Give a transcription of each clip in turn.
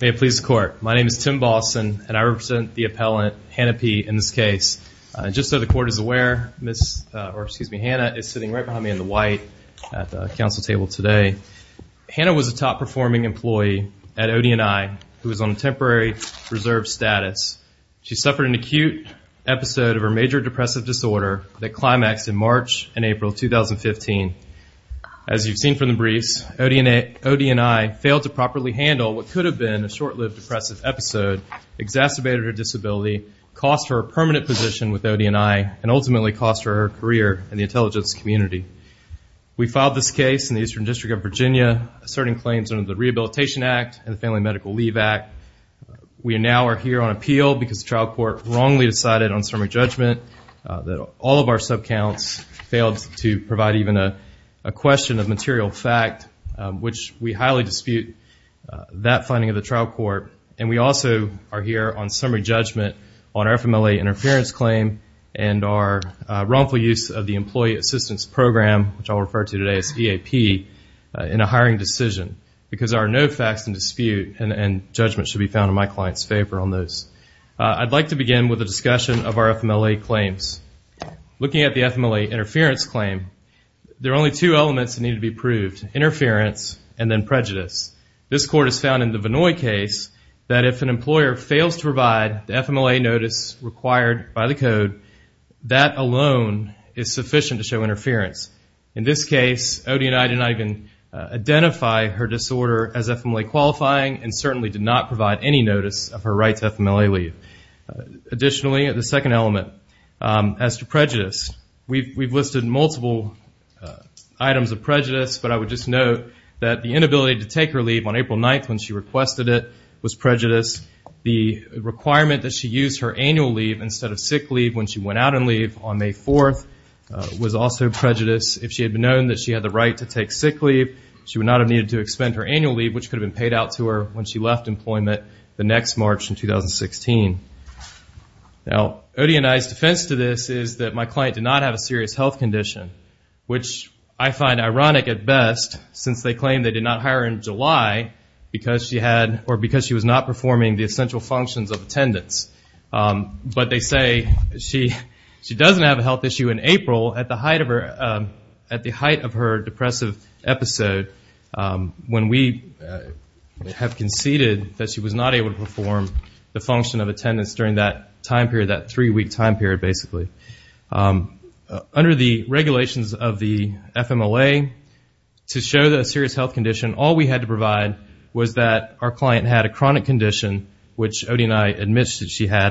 May it please the court. My name is Tim Balson and I represent the appellant Hannah P. in this case. Just so the court is aware, Hannah is sitting right behind me in the white at the council table today. Hannah was a top performing employee at ODNI who was on temporary reserve status. She suffered an acute episode of her major depressive disorder that climaxed in March and April 2015. As you've seen from the briefs, ODNI failed to properly handle what could have been a short-lived depressive episode, exacerbated her disability, cost her a permanent position with ODNI, and ultimately cost her her career in the intelligence community. We filed this case in the Eastern District of Virginia asserting claims under the Rehabilitation Act and the Family Medical Leave Act. We now are here on appeal because the trial court wrongly decided on summary judgment that all of our sub counts failed to provide even a that finding of the trial court. And we also are here on summary judgment on our FMLA interference claim and our wrongful use of the employee assistance program, which I'll refer to today as EAP, in a hiring decision because there are no facts in dispute and judgment should be found in my client's favor on those. I'd like to begin with a discussion of our FMLA claims. Looking at the FMLA interference claim, there are only two elements that need to be proved. Interference and then was found in the Vinoy case that if an employer fails to provide the FMLA notice required by the code, that alone is sufficient to show interference. In this case, ODNI did not even identify her disorder as FMLA qualifying and certainly did not provide any notice of her right to FMLA leave. Additionally, the second element as to prejudice. We've listed multiple items of prejudice, but I would just note that the inability to take her leave on April 9th when she requested it was prejudice. The requirement that she use her annual leave instead of sick leave when she went out on leave on May 4th was also prejudice. If she had been known that she had the right to take sick leave, she would not have needed to expend her annual leave, which could have been paid out to her when she left employment the next March in 2016. Now, ODNI's defense to this is that my claim they did not hire her in July because she was not performing the essential functions of attendance. They say she doesn't have a health issue in April at the height of her depressive episode when we have conceded that she was not able to perform the function of attendance during that three-week time period, basically. Under the regulations of the FMLA, to show the serious health condition, all we had to provide was that our client had a chronic condition, which ODNI admits that she had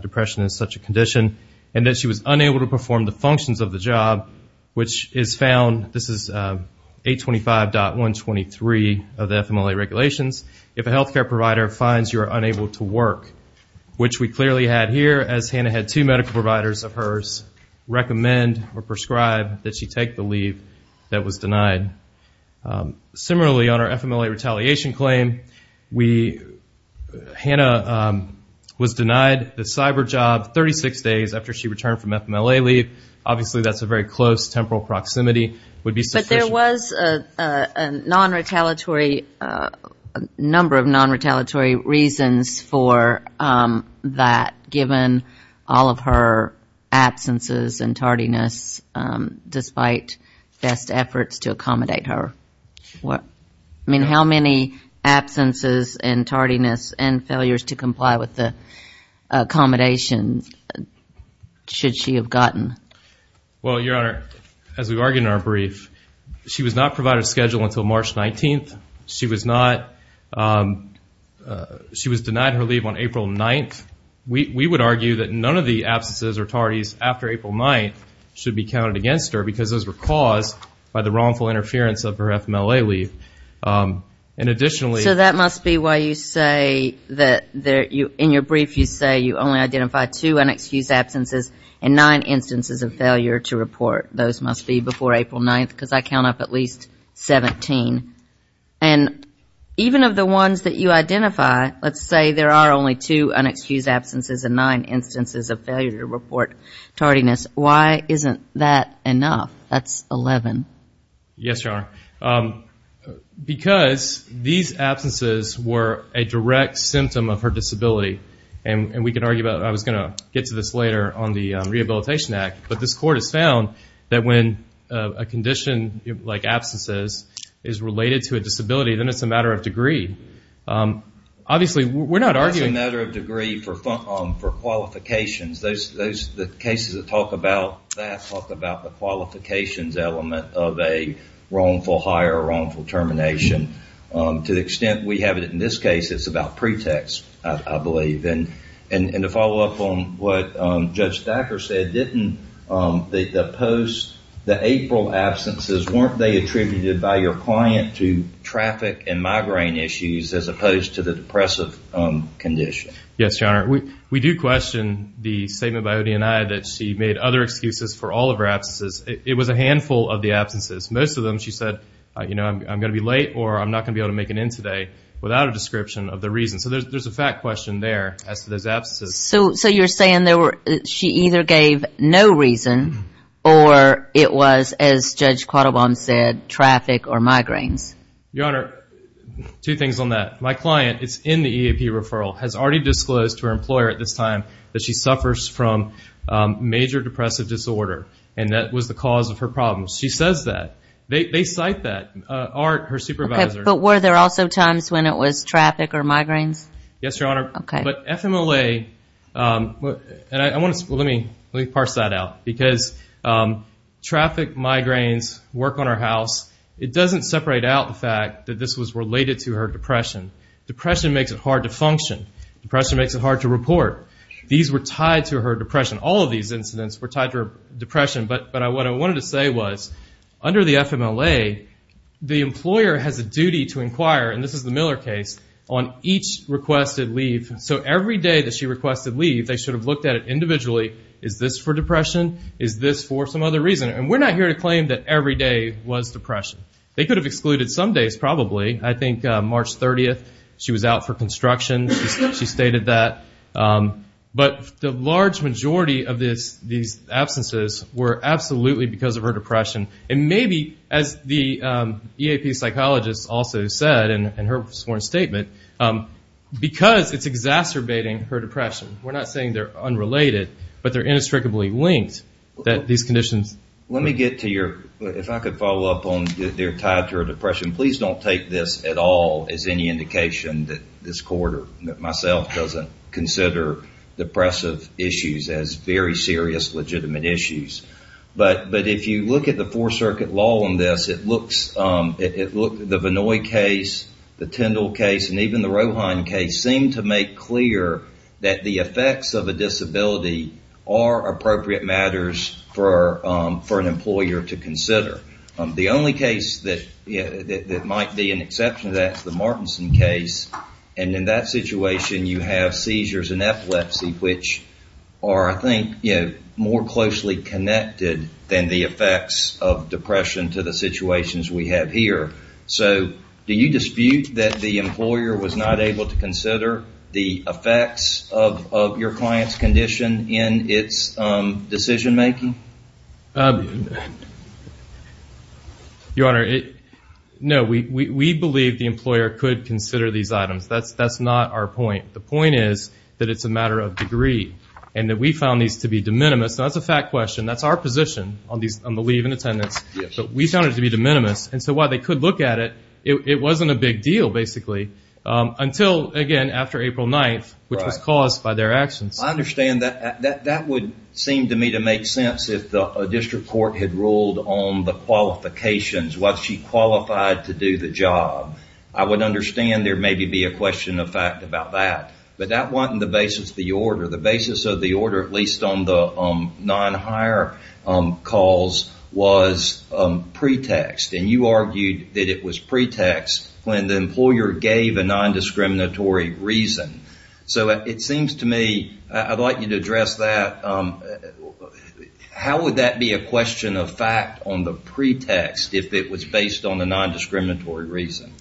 depression as such a condition, and that she was unable to perform the functions of the job, which is found, this is 825.123 of the FMLA regulations, if a health care provider finds you are unable to work, which we clearly had here, as Hannah had two medical providers of hers recommend or prescribe that she take the leave that was denied. Similarly, on our FMLA retaliation claim, Hannah was denied the cyber job 36 days after she returned from FMLA leave. Obviously, that's a very close temporal proximity. But there was a number of non-retaliatory reasons for that given. All of her absences and tardiness despite best efforts to accommodate her. How many absences and tardiness and failures to comply with the accommodations should she have gotten? Well, Your Honor, as we argued in our brief, she was not provided a schedule until March 19th. She was denied her leave on April 9th. We would argue that none of the absences or tardiness after April 9th should be counted against her because those were caused by the wrongful interference of her FMLA leave. And additionally- So that must be why you say that in your brief you say you only identified two unexcused absences and nine instances of failure to report. Those must be before April 9th because I count up at least 17. And even of the ones that you identified, nine instances of failure to report tardiness. Why isn't that enough? That's 11. Yes, Your Honor. Because these absences were a direct symptom of her disability. And we can argue about it. I was going to get to this later on the Rehabilitation Act. But this Court has found that when a condition like absences is related to a disability, then it's a matter of degree. Obviously, we're not arguing- For qualifications, the cases that talk about that talk about the qualifications element of a wrongful hire or wrongful termination. To the extent we have it in this case, it's about pretext, I believe. And to follow up on what Judge Thacker said, didn't the post-April absences, weren't they attributed by your client to traffic and migraine issues as opposed to the depressive condition? Yes, Your Honor. We do question the statement by ODNI that she made other excuses for all of her absences. It was a handful of the absences. Most of them she said, you know, I'm going to be late or I'm not going to be able to make an end today without a description of the reason. So there's a fact question there as to those absences. So you're saying she either gave no reason or it was, as Judge Quattlebaum said, traffic or migraines? Your Honor, two things on that. My client is in the EAP referral, has already disclosed to her employer at this time that she suffers from major depressive disorder. And that was the cause of her problems. She says that. They cite that. Art, her supervisor. But were there also times when it was traffic or migraines? Yes, Your Honor. But FMLA, and I want to, let me parse that out. Because traffic, migraines, work on her house, it doesn't separate out the fact that this was hard to function. Depression makes it hard to report. These were tied to her depression. All of these incidents were tied to her depression. But what I wanted to say was, under the FMLA, the employer has a duty to inquire, and this is the Miller case, on each requested leave. So every day that she requested leave, they should have looked at it individually. Is this for depression? Is this for some other reason? And we're not here to claim that every day was depression. They could have excluded some days, probably. I think March 30th, she was out for construction. She stated that. But the large majority of these absences were absolutely because of her depression. And maybe, as the EAP psychologist also said in her sworn statement, because it's exacerbating her depression. We're not saying they're unrelated, but they're inextricably linked, that these conditions. Let me get to your, if I could follow up on, they're tied to her depression. Please don't take this at all as any indication that this court, or myself, doesn't consider depressive issues as very serious, legitimate issues. But if you look at the Fourth Circuit law on this, it looks, the Vinoy case, the Tyndall case, and even the Rohine case, seem to make clear that the effects of a disability are appropriate matters for an employer to consider. The only case that might be an exception to that is the Martinson case. And in that situation, you have seizures and epilepsy, which are, I think, more closely connected than the effects of depression to the situations we have here. So, do you dispute that the employer was not able to consider the effects of your client's condition in its decision making? Your Honor, no. We believe the employer could consider these items. That's not our point. The point is that it's a matter of degree, and that we found these to be de minimis. Now, that's a fact question. That's our position on the leave and attendance. But we found it to be de minimis. And so, while they could look at it, it wasn't a big deal, basically, until, again, after April 9th, which was caused by their actions. I understand that. That would seem to me to make sense if a district court had ruled on the qualifications. Was she qualified to do the job? I would understand there may be a question of fact about that. But that wasn't the basis of the order. The basis of the order, at least on the non-hire calls, was pretext. And you argued that it was pretext when the employer gave a non-discriminatory reason. So, it seems to me, I'd like you to address that. How would that be a question of fact on the pretext if it was based on a non-discriminatory reason?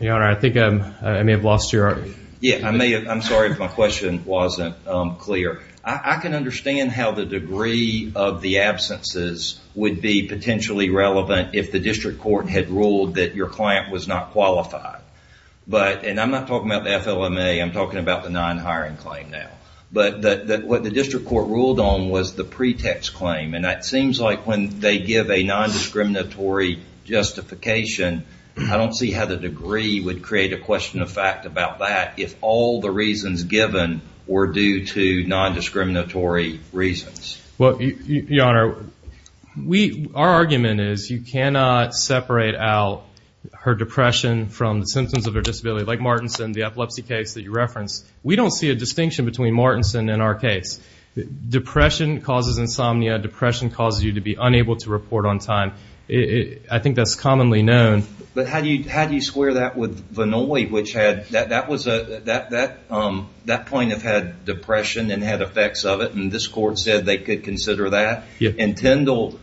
Your Honor, I think I may have lost your order. Yeah, I'm sorry if my question wasn't clear. I can understand how the degree of the absences would be potentially relevant if the district court had ruled that your client was not qualified. But, and I'm not talking about the FLMA, I'm talking about the non-hiring claim now. But what the district court ruled on was the pretext claim. And that seems like when they give a non-discriminatory justification, I don't see how the degree would create a question of fact about that if all the reasons given were due to non-discriminatory reasons. Well, Your Honor, our argument is you cannot separate out her depression from the symptoms of her disability, like Martinson, the epilepsy case that you referenced. We don't see a distinction between Martinson and our case. Depression causes insomnia. Depression causes you to be unable to report on time. I think that's commonly known. But how do you square that with Vannoy, which had, that point had depression and had effects of it. And this court said they could consider that. In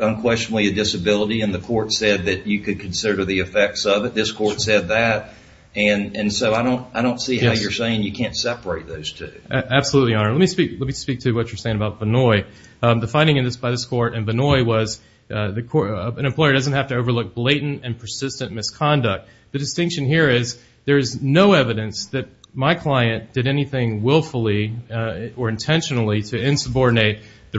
unquestionably a disability, and the court said that you could consider the effects of it. This court said that. And so I don't, I don't see how you're saying you can't separate those two. Absolutely, Your Honor. Let me speak, let me speak to what you're saying about Vannoy. The finding in this, by this court and Vannoy was, an employer doesn't have to overlook blatant and persistent misconduct. The distinction here is there is no evidence that my client did anything willfully or intentionally to insubordinate the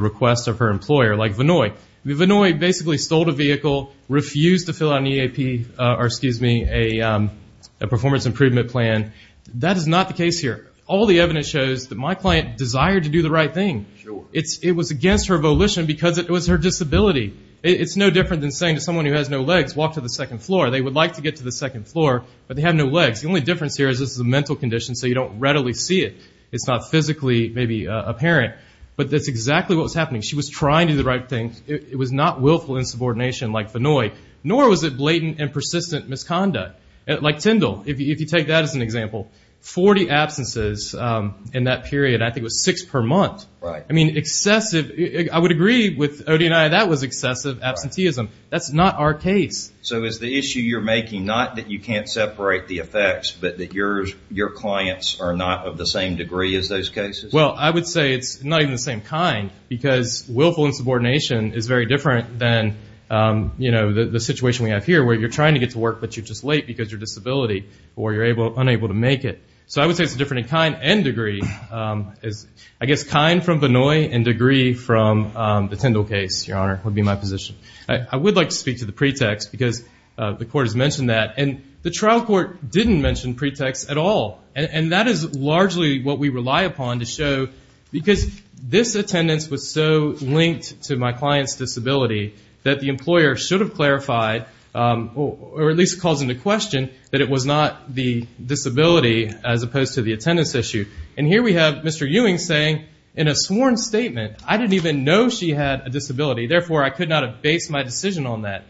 Vannoy basically stole the vehicle, refused to fill out an EAP, or excuse me, a performance improvement plan. That is not the case here. All the evidence shows that my client desired to do the right thing. Sure. It's, it was against her volition because it was her disability. It's no different than saying to someone who has no legs, walk to the second floor. They would like to get to the second floor, but they have no legs. The only difference here is this is a mental condition, so you don't readily see it. It's not physically maybe apparent, but that's exactly what was happening. She was trying to do the right thing. It was not willful insubordination like Vannoy, nor was it blatant and persistent misconduct. Like Tyndall, if you take that as an example, 40 absences in that period, I think it was six per month. Right. I mean, excessive, I would agree with Odie and I, that was excessive absenteeism. That's not our case. So is the issue you're making not that you can't separate the effects, but that your clients are not of the same degree as those cases? Well, I would say it's not even the same kind, because willful insubordination is very different than the situation we have here, where you're trying to get to work, but you're just late because of your disability, or you're unable to make it. So I would say it's different in kind and degree. I guess kind from Vannoy and degree from the Tyndall case, Your Honor, would be my position. I would like to speak to the pretext, because the court has mentioned that, and the trial court didn't mention pretext at all. And that is largely what we rely upon to show, because this attendance was so linked to my client's disability, that the employer should have clarified, or at least caused into question, that it was not the disability as opposed to the attendance issue. And here we have Mr. Ewing saying, in a sworn statement, I didn't even know she had a disability, therefore I could not have based my decision on that.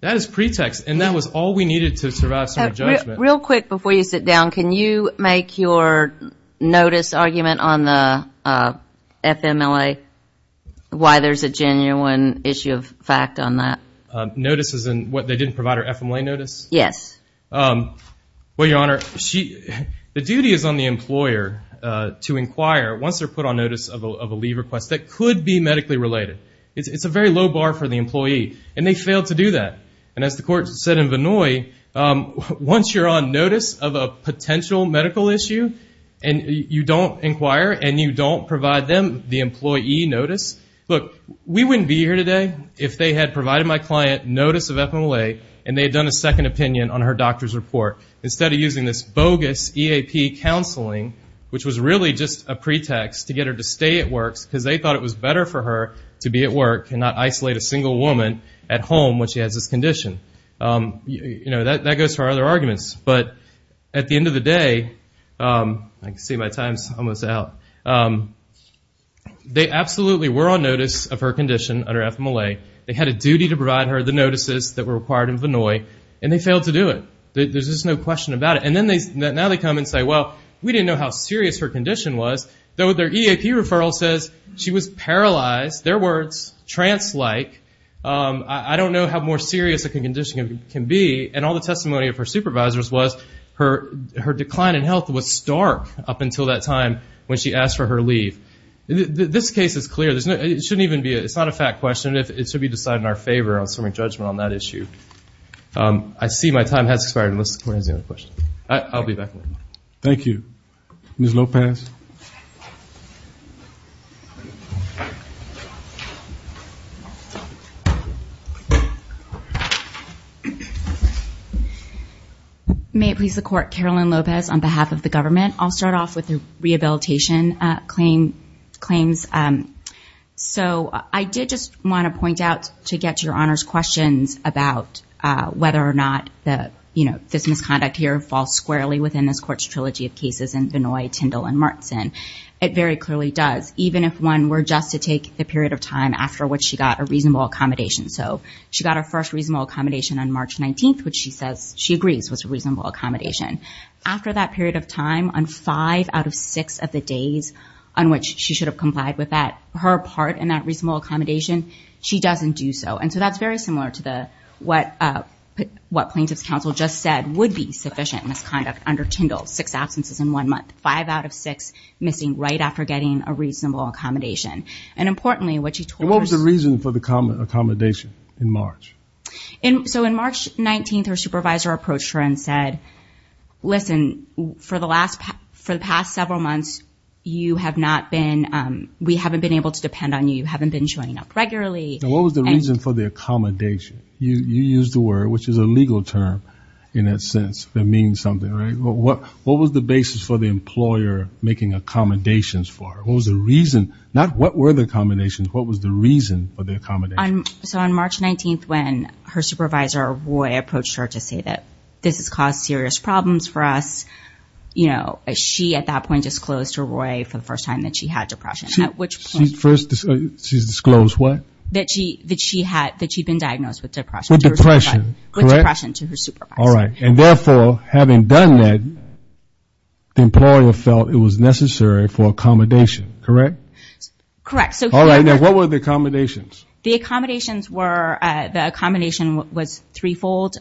That is pretext, and that was all we needed to survive some judgment. Real quick, before you sit and make your notice argument on the FMLA, why there's a genuine issue of fact on that. Notice as in, they didn't provide her FMLA notice? Yes. Well, Your Honor, the duty is on the employer to inquire, once they're put on notice of a leave request, that could be medically related. It's a very low bar for the employee, and they failed to do that. And as the court said in Vannoy, once you're on notice of a potential medical issue, and you don't inquire, and you don't provide them the employee notice, look, we wouldn't be here today if they had provided my client notice of FMLA, and they had done a second opinion on her doctor's report, instead of using this bogus EAP counseling, which was really just a pretext to get her to stay at work, because they thought it was better for her to be at work, and not isolate a single woman at home when she has this condition. You know, that goes for other people. And today, I can see my time's almost out, they absolutely were on notice of her condition under FMLA. They had a duty to provide her the notices that were required in Vannoy, and they failed to do it. There's just no question about it. And now they come and say, well, we didn't know how serious her condition was, though their EAP referral says she was paralyzed, their words, trance-like. I don't know how more serious a condition can be. And all the testimony of her decline in health was stark up until that time when she asked for her leave. This case is clear. It shouldn't even be a fact question. It should be decided in our favor, assuming judgment on that issue. I see my time has expired. I'll be back with you. Thank you. Ms. Lopez. May it please the court, Carolyn Lopez on behalf of the government. I'll start off with the rehabilitation claims. So I did just wanna point out to get to your honor's questions about whether or not this misconduct here falls squarely within this court's trilogy of cases in Vannoy, Tyndall, and Martinson. It very clearly does, even if one were just to take the period of time after which she got a reasonable accommodation. So she got her first reasonable accommodation on March 19th, which she says she agrees was a reasonable accommodation. After that period of time, on five out of six of the days on which she should have complied with that, her part in that reasonable accommodation, she doesn't do so. And so that's very similar to what plaintiff's counsel just said would be sufficient misconduct under Tyndall, six absences in one month, five out of six missing right after getting a reasonable accommodation. And importantly, what she told us... And what was the reason for the accommodation in March? So in March 19th, her supervisor approached her and said, listen, for the past several months, you have not been... We haven't been able to depend on you. You haven't been showing up regularly. What was the reason for the accommodation? You used the word, which is a legal term in that sense, that means something, right? What was the basis for the employer making accommodations for her? What was the reason? Not what were the accommodations, what was the reason for the accommodation? So on March 19th, when her supervisor, Roy, approached her to say that this has caused serious problems for us, she at that point disclosed to Roy for the first time that she had depression, at which point... She first disclosed what? That she had... That she'd been diagnosed with depression. With depression, correct? With depression to her supervisor. All right. And therefore, having done that, the employer felt it was necessary for accommodation, correct? Correct. So... All right. Now, what were the accommodations? The accommodations were... The accommodation was threefold.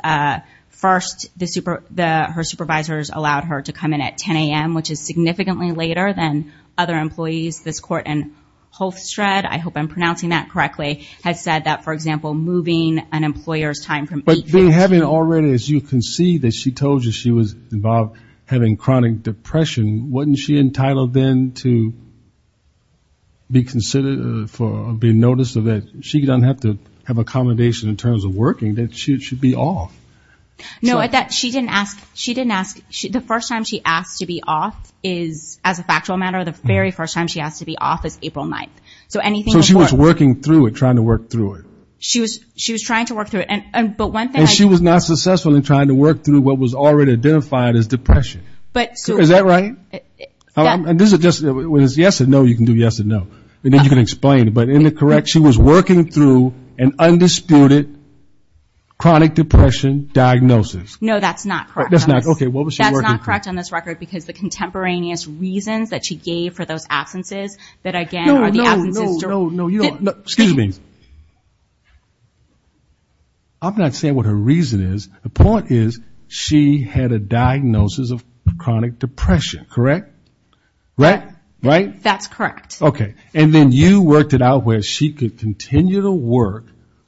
First, her supervisors allowed her to come in at 10 AM, which is significantly later than other employees. This court in Holstred, I hope I'm pronouncing that correctly, has said that, for example, moving an employer's time from 8 AM... But having already, as you can see, that she told you she was involved having chronic depression, wasn't she entitled then to be considered for... Be noticed that she doesn't have to have accommodation in terms of working, that she should be off? No, that she didn't ask... She didn't ask... The first time she asked to be off is, as a factual matter, the very first time she asked to be off is April 9th. So anything... So she was working through it, trying to work through it? She was trying to work through it, and... But one thing I... And she was not successful in trying to work through what was already identified as depression. But... So is that right? And this is just... When it's yes or no, you can do yes or no, and then you can explain. But in the correct... She was working through an undisputed chronic depression diagnosis. No, that's not correct. That's not... Okay, what was she working through? That's not correct on this record, because the contemporaneous reasons that she gave for those absences that, again, are the absences... No, no, no, no, you don't... Excuse me. I'm not saying what her reason is. The point is, she had a diagnosis of chronic depression, correct? Right? Right? That's correct. Okay. And then you worked it out where she could continue to work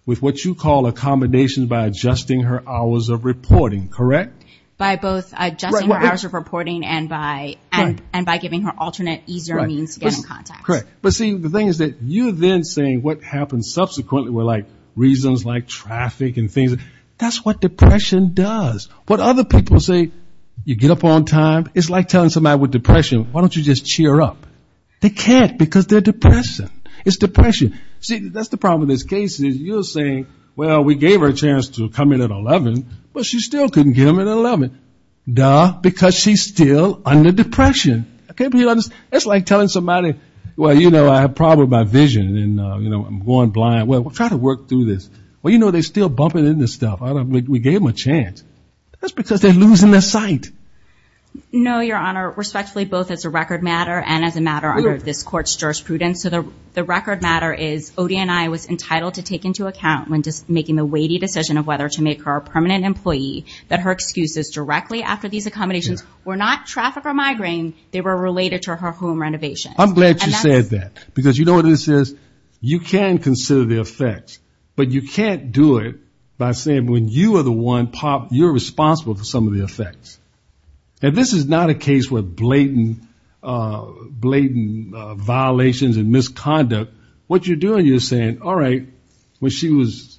with what you call accommodations by adjusting her hours of reporting, correct? By both adjusting her hours of reporting and by giving her alternate easier means to get in contact. Correct. But see, the thing is that you then saying what happened subsequently were reasons like traffic and things. That's what depression does. What other people say, you get up on time. It's like telling somebody with depression, why don't you just cheer up? They can't, because they're depressed. It's depression. See, that's the problem with this case, is you're saying, well, we gave her a chance to come in at 11, but she still couldn't get him at 11. Duh, because she's still under depression. It's like telling somebody, well, you know, I have a problem with my vision and I'm going blind. Well, we'll try to work through this. Well, you know, they're still bumping in this stuff. We gave them a chance. That's because they're losing their sight. No, Your Honor. Respectfully, both as a record matter and as a matter under this court's jurisprudence. So the record matter is, ODNI was the weighty decision of whether to make her a permanent employee, that her excuses directly after these accommodations were not traffic or migraine. They were related to her home renovation. I'm glad you said that, because you know what this is? You can consider the effects, but you can't do it by saying when you are the one, Pop, you're responsible for some of the effects. And this is not a case where blatant violations and misconduct. What you're doing, you're saying, well, she was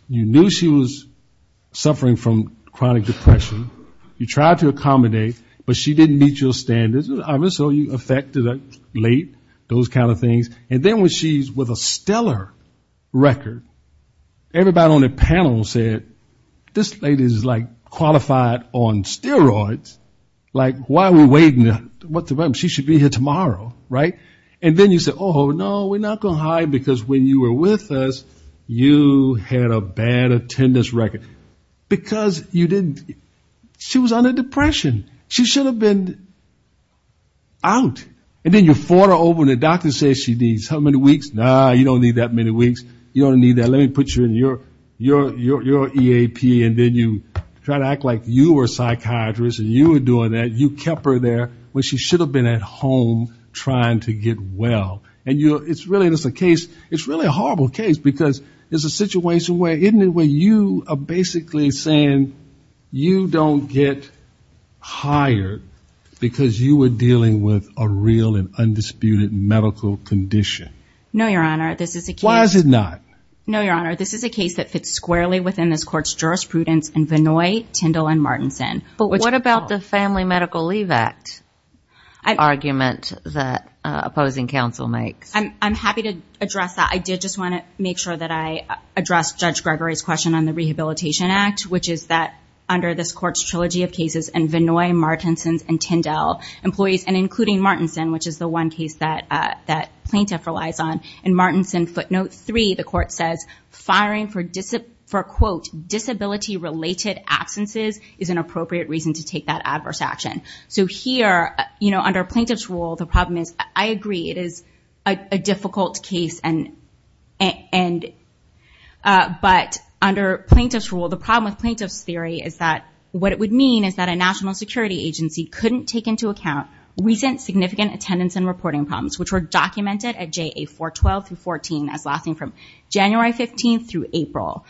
suffering from chronic depression. You tried to accommodate, but she didn't meet your standards. So you affected her late, those kind of things. And then when she's with a stellar record, everybody on the panel said, this lady is like qualified on steroids. Like, why are we waiting? She should be here tomorrow, right? And then you said, oh, no, we're not going to hire her, because when you were with us, you had a bad attendance record. Because you didn't, she was under depression. She should have been out. And then you fought her over when the doctor said she needs how many weeks? No, you don't need that many weeks. You don't need that. Let me put you in your EAP. And then you try to act like you were a psychiatrist and you were doing that. You kept her there when she should have been at home trying to get well. And it's really a horrible case, because it's a situation where you are basically saying you don't get hired because you were dealing with a real and undisputed medical condition. Why is it not? No, Your Honor, this is a case that fits squarely within this Court's jurisprudence in Vinoy, Tindall, and Martinson. But what about the Family Medical Leave Act argument that was passed? I'm happy to address that. I did just want to make sure that I addressed Judge Gregory's question on the Rehabilitation Act, which is that under this Court's trilogy of cases in Vinoy, Martinson's, and Tindall employees, and including Martinson, which is the one case that plaintiff relies on, in Martinson footnote 3, the Court says, firing for, quote, disability-related absences is an appropriate reason to take that adverse action. So here, under a plaintiff's rule, the problem is, I agree, it is a difficult case. But under plaintiff's rule, the problem with plaintiff's theory is that what it would mean is that a national security agency couldn't take into account recent significant attendance and reporting problems, which were documented at JA 412 through 14 as lasting from January 15th through April,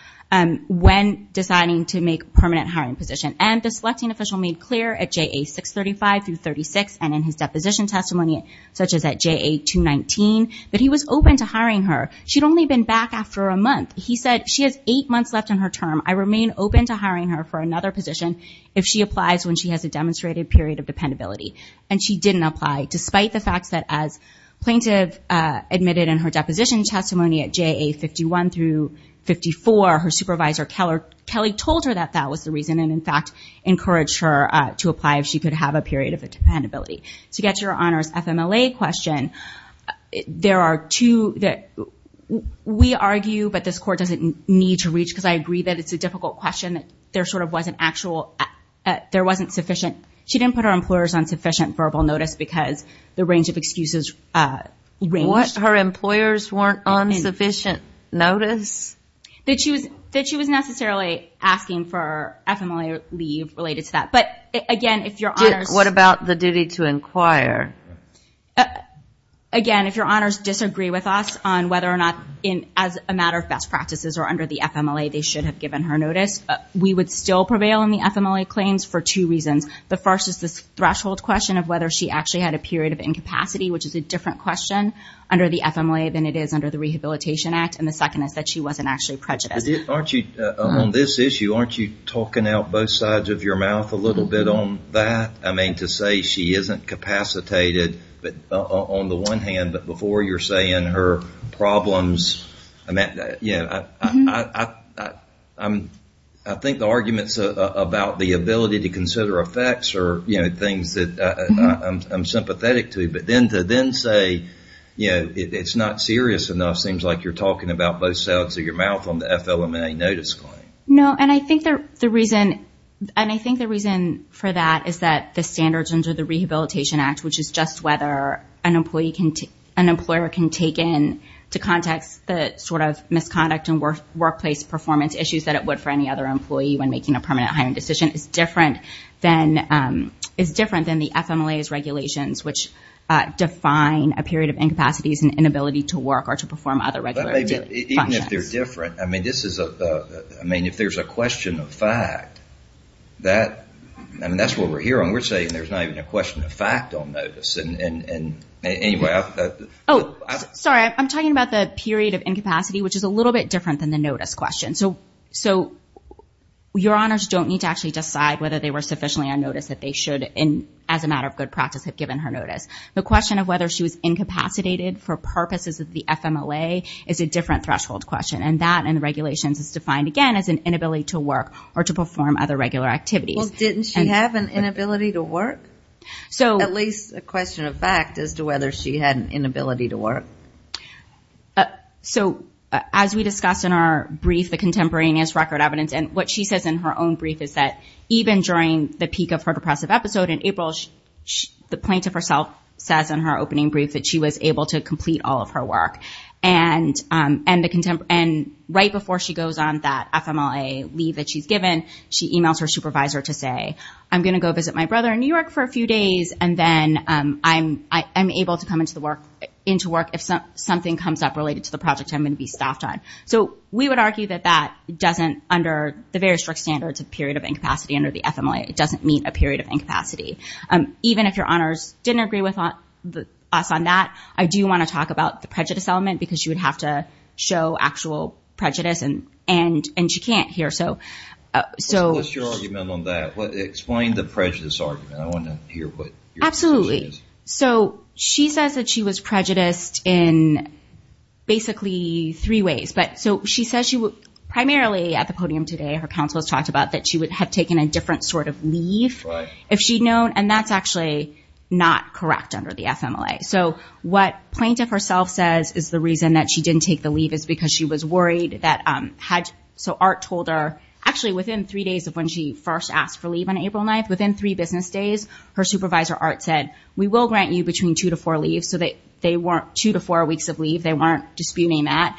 when deciding to make permanent hiring position. And the selecting official made clear at JA 635 through 36, and his deposition testimony, such as at JA 219, that he was open to hiring her. She'd only been back after a month. He said, she has eight months left on her term. I remain open to hiring her for another position if she applies when she has a demonstrated period of dependability. And she didn't apply, despite the fact that as plaintiff admitted in her deposition testimony at JA 51 through 54, her supervisor, Kelly, told her that that was the reason, and in fact encouraged her to apply if she could have a period of dependability. To get to your Honor's FMLA question, there are two that we argue, but this Court doesn't need to reach, because I agree that it's a difficult question. There sort of wasn't actual, there wasn't sufficient. She didn't put her employers on sufficient verbal notice because the range of excuses ranged. What? Her employers weren't on sufficient notice? That she was necessarily asking for FMLA leave related to that. But again, if your Honor's... What about the duty to inquire? Again, if your Honor's disagree with us on whether or not, as a matter of best practices or under the FMLA, they should have given her notice, we would still prevail in the FMLA claims for two reasons. The first is this threshold question of whether she actually had a period of incapacity, which is a different question under the FMLA than it is under the Rehabilitation Act. And the second is that she wasn't actually prejudiced. Aren't you, on this issue, aren't you talking out both sides of your mouth a little bit on that? I mean, to say she isn't capacitated on the one hand, but before you're saying her problems... I think the arguments about the ability to consider effects are things that I'm sympathetic to, but then to then say it's not serious enough seems like you're talking about both sides of your mouth on the FLMA notice claim. No, and I think the reason for that is that the standards under the Rehabilitation Act, which is just whether an employer can take in, to context, the sort of misconduct and workplace performance issues that it would for any other employee when making a permanent hiring decision, is different than the FMLA's regulations, which define a period of incapacities and inability to work or to perform other regular functions. Even if they're different, I mean, if there's a question of fact, that's what we're here on. We're saying there's not even a question of fact on notice. Oh, sorry. I'm talking about the period of incapacity, which is a little bit different than the notice question. So your honors don't need to actually decide whether they were sufficiently on notice that they should, as a matter of good practice, have given her notice. The question of whether she was incapacitated for purposes of the FMLA is a different threshold question, and that in the regulations is defined, again, as an inability to work or to perform other regular activities. Well, didn't she have an inability to work? At least a question of fact as to whether she had an inability to work. So as we discussed in our brief, the contemporaneous record evidence, and what she says in her own brief is that even during the peak of her depressive episode in April, the plaintiff herself says in her opening brief that she was able to complete all of her work. And right before she goes on that FMLA leave that she's given, she emails her supervisor to say, I'm going to go visit my brother in New York for a few days, and then I'm able to come into work if something comes up related to the project I'm going to be staffed on. So we would argue that that doesn't, under the very strict standards of period of incapacity under the FMLA, it doesn't meet a period of incapacity. Even if your honors didn't agree with us on that, I do want to talk about the prejudice element because she would have to show actual prejudice and she can't here. So what's your argument on that? Explain the prejudice argument. I want to hear what your position is. Absolutely. So she says that she was prejudiced in basically three ways. But so she says primarily at the podium today, her counsel has talked about that she would have taken a different sort of leave if she'd known, and that's actually not correct under the FMLA. So what plaintiff herself says is the reason that she didn't take the leave is because she was worried that had, so Art told her, actually within three days of when she first asked for leave on April 9th, within three business days, her supervisor Art said, we will grant you between two to four weeks of leave. They weren't disputing that.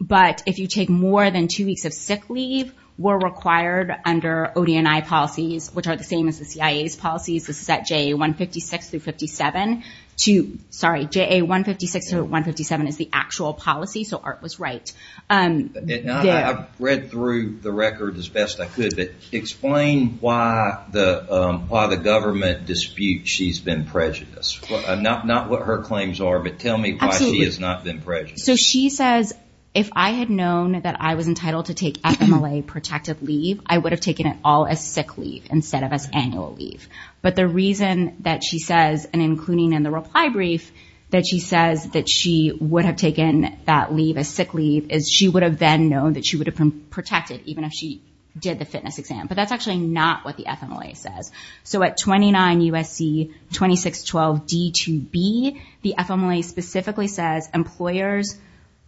But if you take more than two weeks of sick leave, we're required under ODNI policies, which are the same as the CIA's policies. This is at JA 156 through 57 to, sorry, JA 156 to 157 is the actual policy. So Art was right. I've read through the record as best I could, but explain why the government disputes she's been prejudiced. Not what her claims are, but tell me why she has not been prejudiced. So she says, if I had known that I was entitled to take FMLA protective leave, I would have taken it all as sick leave instead of as annual leave. But the reason that she says, and including in the reply brief that she says that she would have taken that leave as sick leave is she would have then known that she would have been protected even if she did the fitness exam. But that's actually not what the FMLA says. So at 29 USC 2612 D2B, the FMLA specifically says employers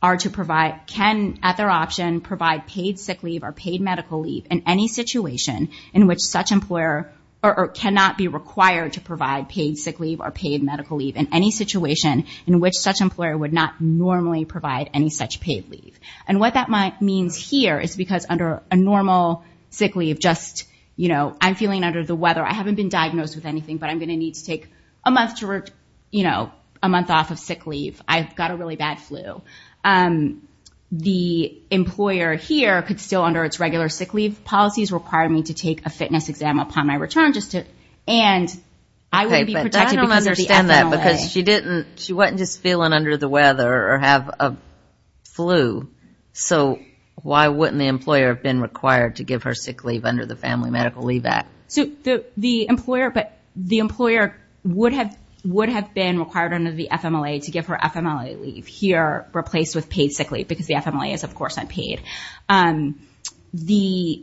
are to provide, can at their option provide paid sick leave or paid medical leave in any situation in which such employer or cannot be required to provide paid sick leave or paid medical leave in any situation in which such employer would not normally provide any such paid leave. And what that means here is because under a normal sick leave, just I'm feeling under the weather. I haven't been diagnosed with anything, but I'm going to need to take a month off of sick leave. I've got a really bad flu. The employer here could still under its regular sick leave policies require me to take a fitness exam upon my return just to, and I wouldn't be protected because of the FMLA. Okay, but I don't understand that because she didn't, she wasn't just feeling under the weather or have a flu. So why wouldn't the employer have been required to give her sick leave under the Family Medical Leave Act? So the employer, but the employer would have, would have been required under the FMLA to give her FMLA leave here replaced with paid sick leave.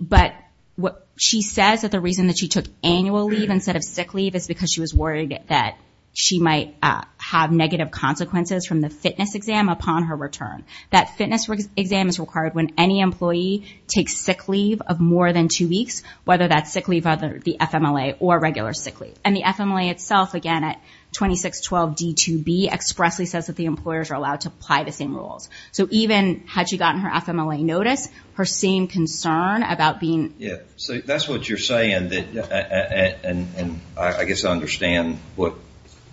But what she says that the reason that she took annual leave instead of sick leave is because she was worried that she might have negative consequences from the fitness exam upon her return. That fitness exam is required when any employee takes sick leave of more than two weeks, whether that's sick leave under the FMLA or regular sick leave. And the FMLA itself, again, at 2612 D2B expressly says that the employers are allowed to apply the same rules. So even had she gotten her FMLA notice, her same concern about being... Yeah. So that's what you're saying that, and I guess I understand what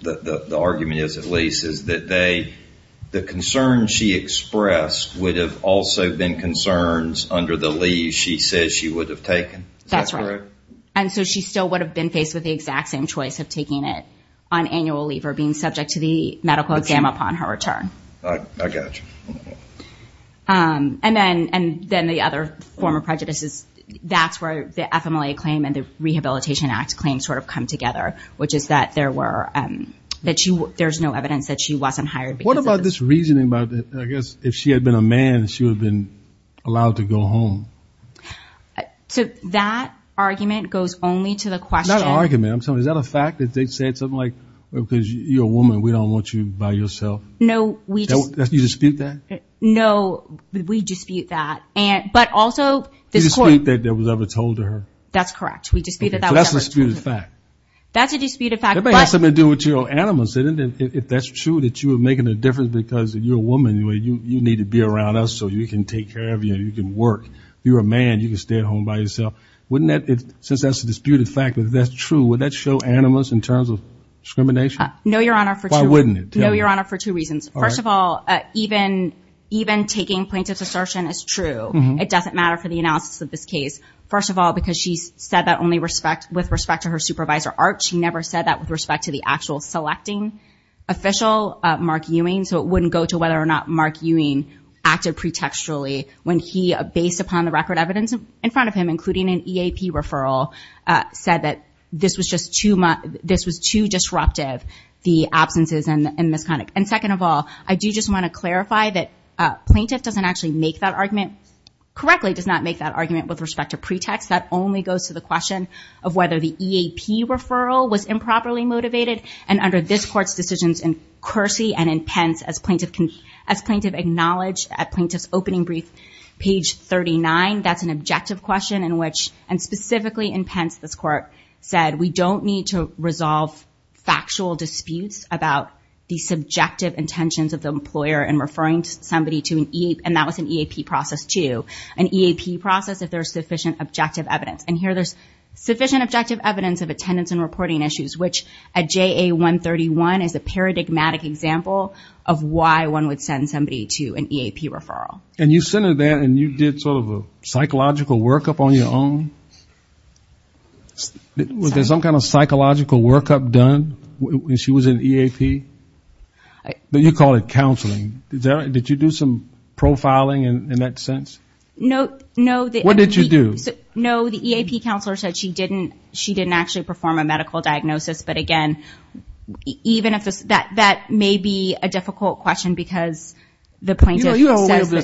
the argument is, at least, is that they, the concern she expressed would have also been concerns under the leave she says she would have taken. That's right. And so she still would have been faced with the exact same choice of taking it on annual leave or being subject to the medical exam upon her return. I got you. And then the other form of prejudice is that's where the FMLA claim and the Rehabilitation Act claim sort of come together, which is that there were, that there's no evidence that she wasn't hired because... What about this reasoning about, I guess, if she had been a man, she would have been allowed to go home? So that argument goes only to the question... Not argument. I'm talking, is that a fact that they said something like, because you're a woman, we don't want you by yourself? No, we just... You dispute that? No, we dispute that. But also... You dispute that that was ever told to her? That's correct. We dispute that that was ever told to her. So that's a disputed fact. That's a disputed fact, but... Everybody has something to do with your animus, isn't it? If that's true, that you were making a difference because you're a woman, you need to be around us so we can take care of you and you can work. You're a man, you can stay at home by yourself. Wouldn't that, since that's a disputed fact, if that's true, would that show animus in terms of discrimination? No, Your Honor, for two... Why wouldn't it? No, Your Honor, for two reasons. First of all, even taking plaintiff's assertion as true, it doesn't matter for the analysis of this case. First of all, because she said that only with respect to her supervisor, Arch, she never said that with respect to the actual selecting official, Mark Ewing, so it wouldn't go to whether or not Mark Ewing acted pretextually when he, based upon the record evidence in front of him, including an EAP referral, said that this was just too disruptive, the absences and misconduct. And second of all, I do just want to clarify that plaintiff doesn't actually make that argument, correctly does not make that argument with respect to pretext. That only goes to the question of whether the EAP referral was improperly motivated and under this court's decisions in Kersey and in Pence, as plaintiff acknowledged at plaintiff's opening brief, page 39, that's an objective question in which, and specifically in Pence, this court said we don't need to resolve factual disputes about the subjective intentions of the employer in referring somebody to an EAP, and that was an EAP process too, an EAP process if there's sufficient objective evidence. And here there's sufficient objective evidence of attendance and reporting issues, which at JA-131 is a paradigmatic example of why one would send somebody to an EAP referral. And you sent her there and you did sort of a psychological workup on your own? Was there some kind of psychological workup done when she was in EAP? You called it counseling. Did you do some profiling in that sense? No. What did you do? No, the EAP counselor said she didn't actually perform a medical diagnosis, but again, even if this, that may be a difficult question because the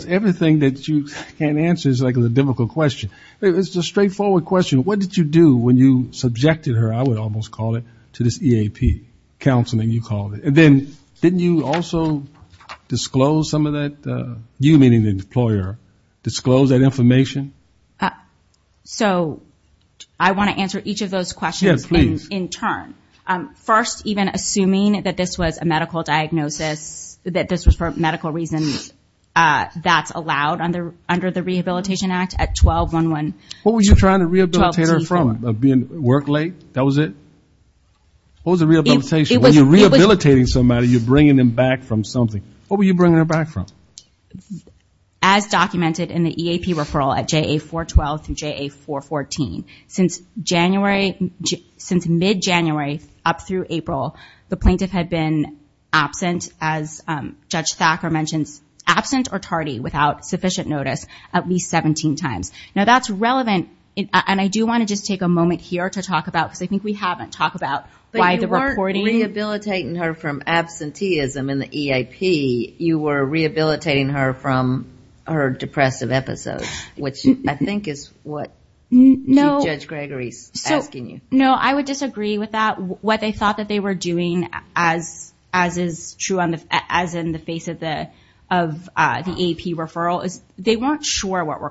everything that you can't answer is like a difficult question. It's a straightforward question. What did you do when you subjected her, I would almost call it, to this EAP? Counseling, you called it. And then didn't you also disclose some of that, you meaning the employer, disclose that information? So I want to answer each of those questions in turn. First, even assuming that this was a medical diagnosis, that this was for medical reasons, that's allowed under the Rehabilitation Act at 12-1-1. What were you trying to rehabilitate her from? Work late? That was it? What was the rehabilitation? When you're rehabilitating somebody, you're bringing them back from something. What were you bringing her back from? As documented in the EAP referral at JA-412 through JA-414, since mid-January up through April, the plaintiff had been absent, as Judge Thacker mentions, absent or tardy without sufficient notice at least 17 times. Now that's relevant. And I do want to just take a moment here to talk about, because I think we haven't talked about why the reporting. But you weren't rehabilitating her from absenteeism in the EAP. You were rehabilitating her from her depressive episodes, which I think is what Judge Gregory is asking you. No, I would disagree with that. What they thought that they were doing, as is true as in the face of the EAP referral, is they weren't sure what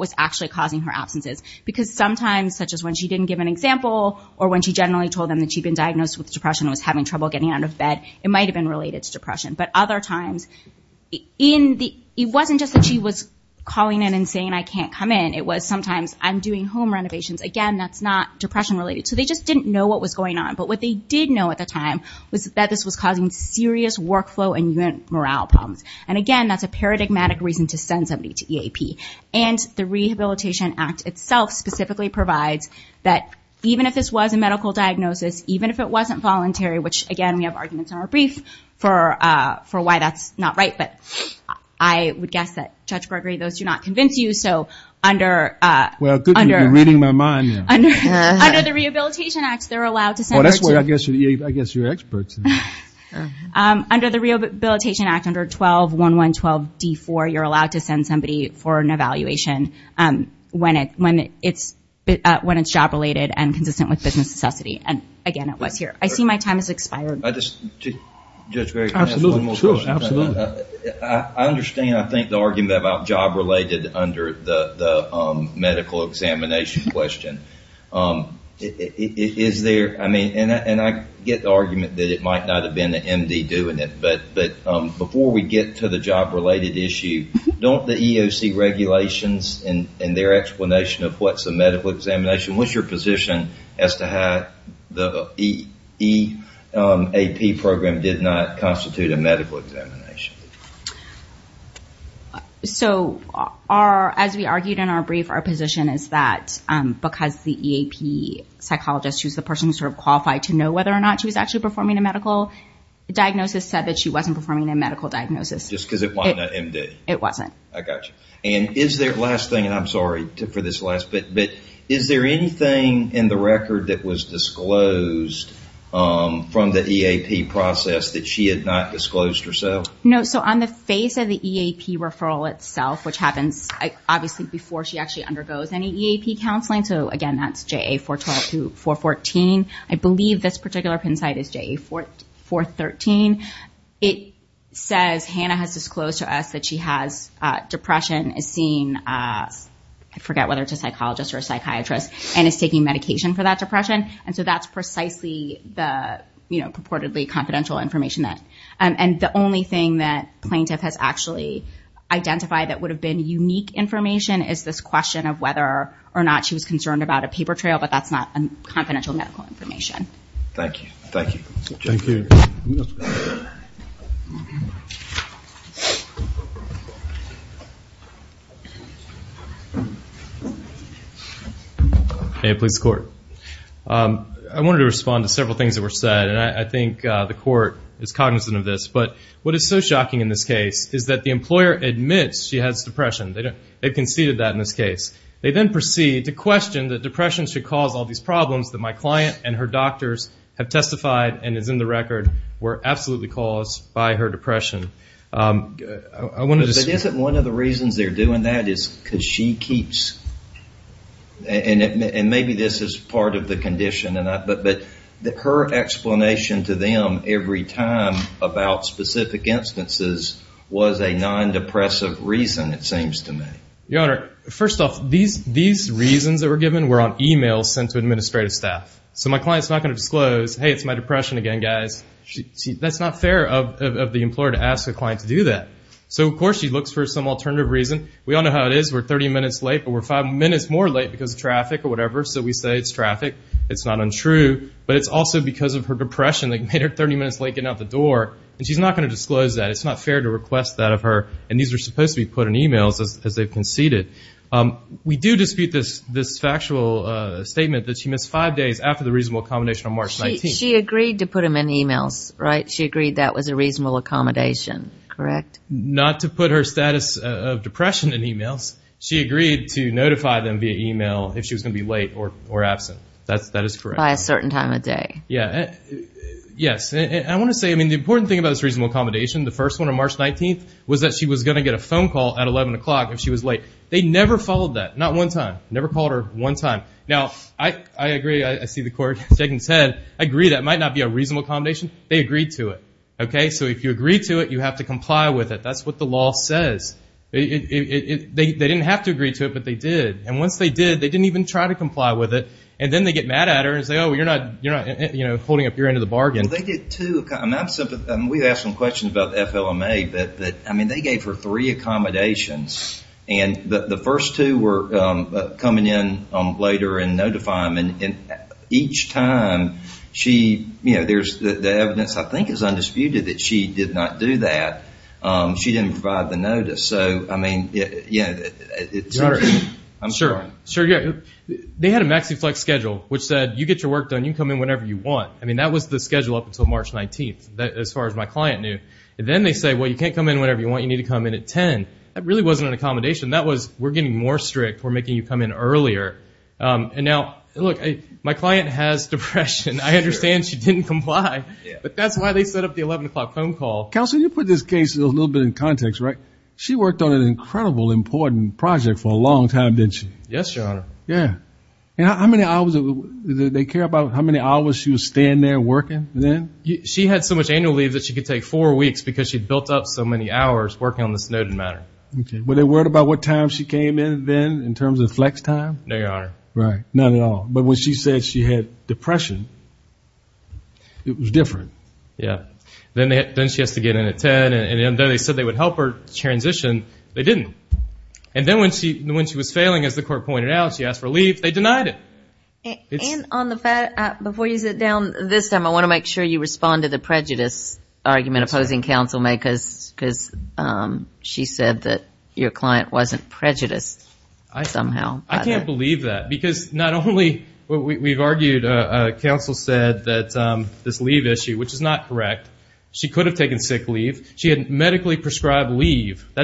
was actually causing her absences. Because sometimes, such as when she didn't give an example, or when she generally told them that she'd been diagnosed with depression and was having trouble getting out of bed, it might have been related to depression. But other times, it wasn't just that she was calling in and saying, I can't come in. It was sometimes, I'm doing home renovations. Again, that's not depression-related. So they just didn't know what was going on. But what they did know at the time was that this was causing serious workflow and even morale problems. And, again, that's a paradigmatic reason to send somebody to EAP. And the Rehabilitation Act itself specifically provides that even if this was a medical diagnosis, even if it wasn't voluntary, which, again, we have arguments in our brief for why that's not right. But I would guess that, Judge Gregory, those do not convince you. Well, good, you're reading my mind now. Under the Rehabilitation Act, they're allowed to send somebody to EAP. I guess you're experts. Under the Rehabilitation Act, under 12.1.1.12.D.4, you're allowed to send somebody for an evaluation when it's job-related and consistent with business necessity. And, again, it was here. I see my time has expired. Judge Gregory, can I ask one more question? Sure, absolutely. I understand, I think, the argument about job-related under the medical examination question. Is there, I mean, and I get the argument that it might not have been the MD doing it, but before we get to the job-related issue, don't the EOC regulations in their explanation of what's a medical examination, what's your position as to how the EAP program did not constitute a medical examination? So, as we argued in our brief, our position is that because the EAP psychologist, who's the person who's sort of qualified to know whether or not she was actually performing a medical diagnosis, said that she wasn't performing a medical diagnosis. Just because it wasn't a MD? It wasn't. I got you. And is there, last thing, and I'm sorry for this last bit, but is there anything in the record that was disclosed from the EAP process that she had not disclosed herself? No, so on the face of the EAP referral itself, which happens obviously before she actually undergoes any EAP counseling, so, again, that's JA-414. I believe this particular PIN site is JA-413. It says Hannah has disclosed to us that she has depression, is seeing, I forget whether it's a psychologist or a psychiatrist, and is taking medication for that depression. And so that's precisely the purportedly confidential information. And the only thing that plaintiff has actually identified that would have been unique information is this question of whether or not she was concerned about a paper trail, but that's not confidential medical information. Thank you. Thank you. Hey, police court. I wanted to respond to several things that were said, and I think the court is cognizant of this, but what is so shocking in this case is that the employer admits she has depression. They conceded that in this case. They then proceed to question that depression should cause all these problems that my client and her doctors have testified and is in the record were absolutely caused by her depression. But isn't one of the reasons they're doing that is because she keeps, and maybe this is part of the condition, but her explanation to them every time about specific instances was a non-depressive reason, it seems to me. Your Honor, first off, these reasons that were given were on e-mails sent to administrative staff. So my client is not going to disclose, hey, it's my depression again, guys. That's not fair of the employer to ask a client to do that. So, of course, she looks for some alternative reason. We all know how it is. We're 30 minutes late, but we're five minutes more late because of traffic or whatever, so we say it's traffic. It's not untrue. But it's also because of her depression that made her 30 minutes late getting out the door, and she's not going to disclose that. It's not fair to request that of her, and these are supposed to be put in e-mails as they've conceded. We do dispute this factual statement that she missed five days after the reasonable accommodation on March 19th. She agreed to put them in e-mails, right? She agreed that was a reasonable accommodation, correct? Not to put her status of depression in e-mails. She agreed to notify them via e-mail if she was going to be late or absent. That is correct. By a certain time of day. Yes. I want to say, I mean, the important thing about this reasonable accommodation, the first one on March 19th, was that she was going to get a phone call at 11 o'clock if she was late. They never followed that. Not one time. Never called her one time. Now, I agree. I see the court shaking its head. I agree that it might not be a reasonable accommodation. They agreed to it, okay? So if you agree to it, you have to comply with it. That's what the law says. They didn't have to agree to it, but they did. And once they did, they didn't even try to comply with it. And then they get mad at her and say, oh, you're not holding up your end of the bargain. They did two. We asked them questions about the FLMA, but, I mean, they gave her three accommodations. And the first two were coming in later and notify them. And each time she, you know, there's the evidence I think is undisputed that she did not do that. She didn't provide the notice. So, I mean, you know, I'm sorry. Sure, yeah. They had a maxi flex schedule, which said you get your work done, you can come in whenever you want. I mean, that was the schedule up until March 19th as far as my client knew. And then they say, well, you can't come in whenever you want. You need to come in at 10. That really wasn't an accommodation. That was we're getting more strict, we're making you come in earlier. And now, look, my client has depression. I understand she didn't comply. But that's why they set up the 11 o'clock phone call. Counselor, you put this case a little bit in context, right? She worked on an incredible important project for a long time, didn't she? Yes, Your Honor. Yeah. And how many hours did they care about how many hours she was staying there working then? She had so much annual leave that she could take four weeks because she'd built up so many hours working on this noted matter. Okay. Were they worried about what time she came in then in terms of flex time? No, Your Honor. Right. Not at all. But when she said she had depression, it was different. Yeah. Then she has to get in at 10. And then they said they would help her transition. They didn't. And then when she was failing, as the court pointed out, she asked for leave. They denied it. And before you sit down, this time I want to make sure you respond to the prejudice argument opposing counsel, because she said that your client wasn't prejudiced somehow. I can't believe that because not only we've argued, counsel said that this leave issue, which is not correct, she could have taken sick leave. She had medically prescribed leave. That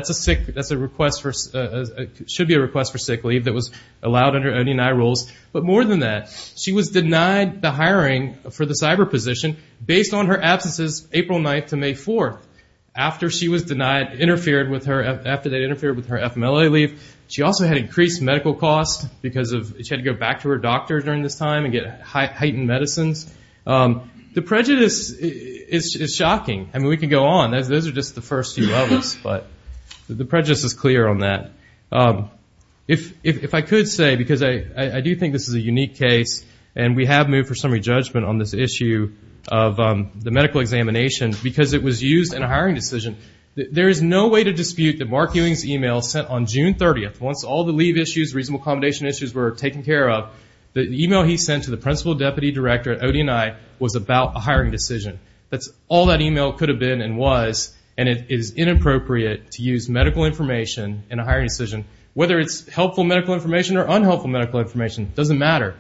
should be a request for sick leave that was allowed under OD&I rules. But more than that, she was denied the hiring for the cyber position based on her absences April 9th to May 4th, after they interfered with her FMLA leave. She also had increased medical costs because she had to go back to her doctor during this time and get heightened medicines. The prejudice is shocking. I mean, we can go on. Those are just the first few levels, but the prejudice is clear on that. If I could say, because I do think this is a unique case, and we have moved for summary judgment on this issue of the medical examination because it was used in a hiring decision, there is no way to dispute that Mark Ewing's email sent on June 30th, once all the leave issues, reasonable accommodation issues were taken care of, the email he sent to the principal deputy director at OD&I was about a hiring decision. That's all that email could have been and was, and it is inappropriate to use medical information in a hiring decision, whether it's helpful medical information or unhelpful medical information. It doesn't matter.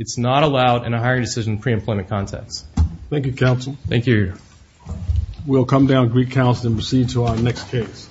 It's not allowed in a hiring decision pre-employment context. Thank you, counsel. Thank you. We'll come down, greet counsel, and proceed to our next case.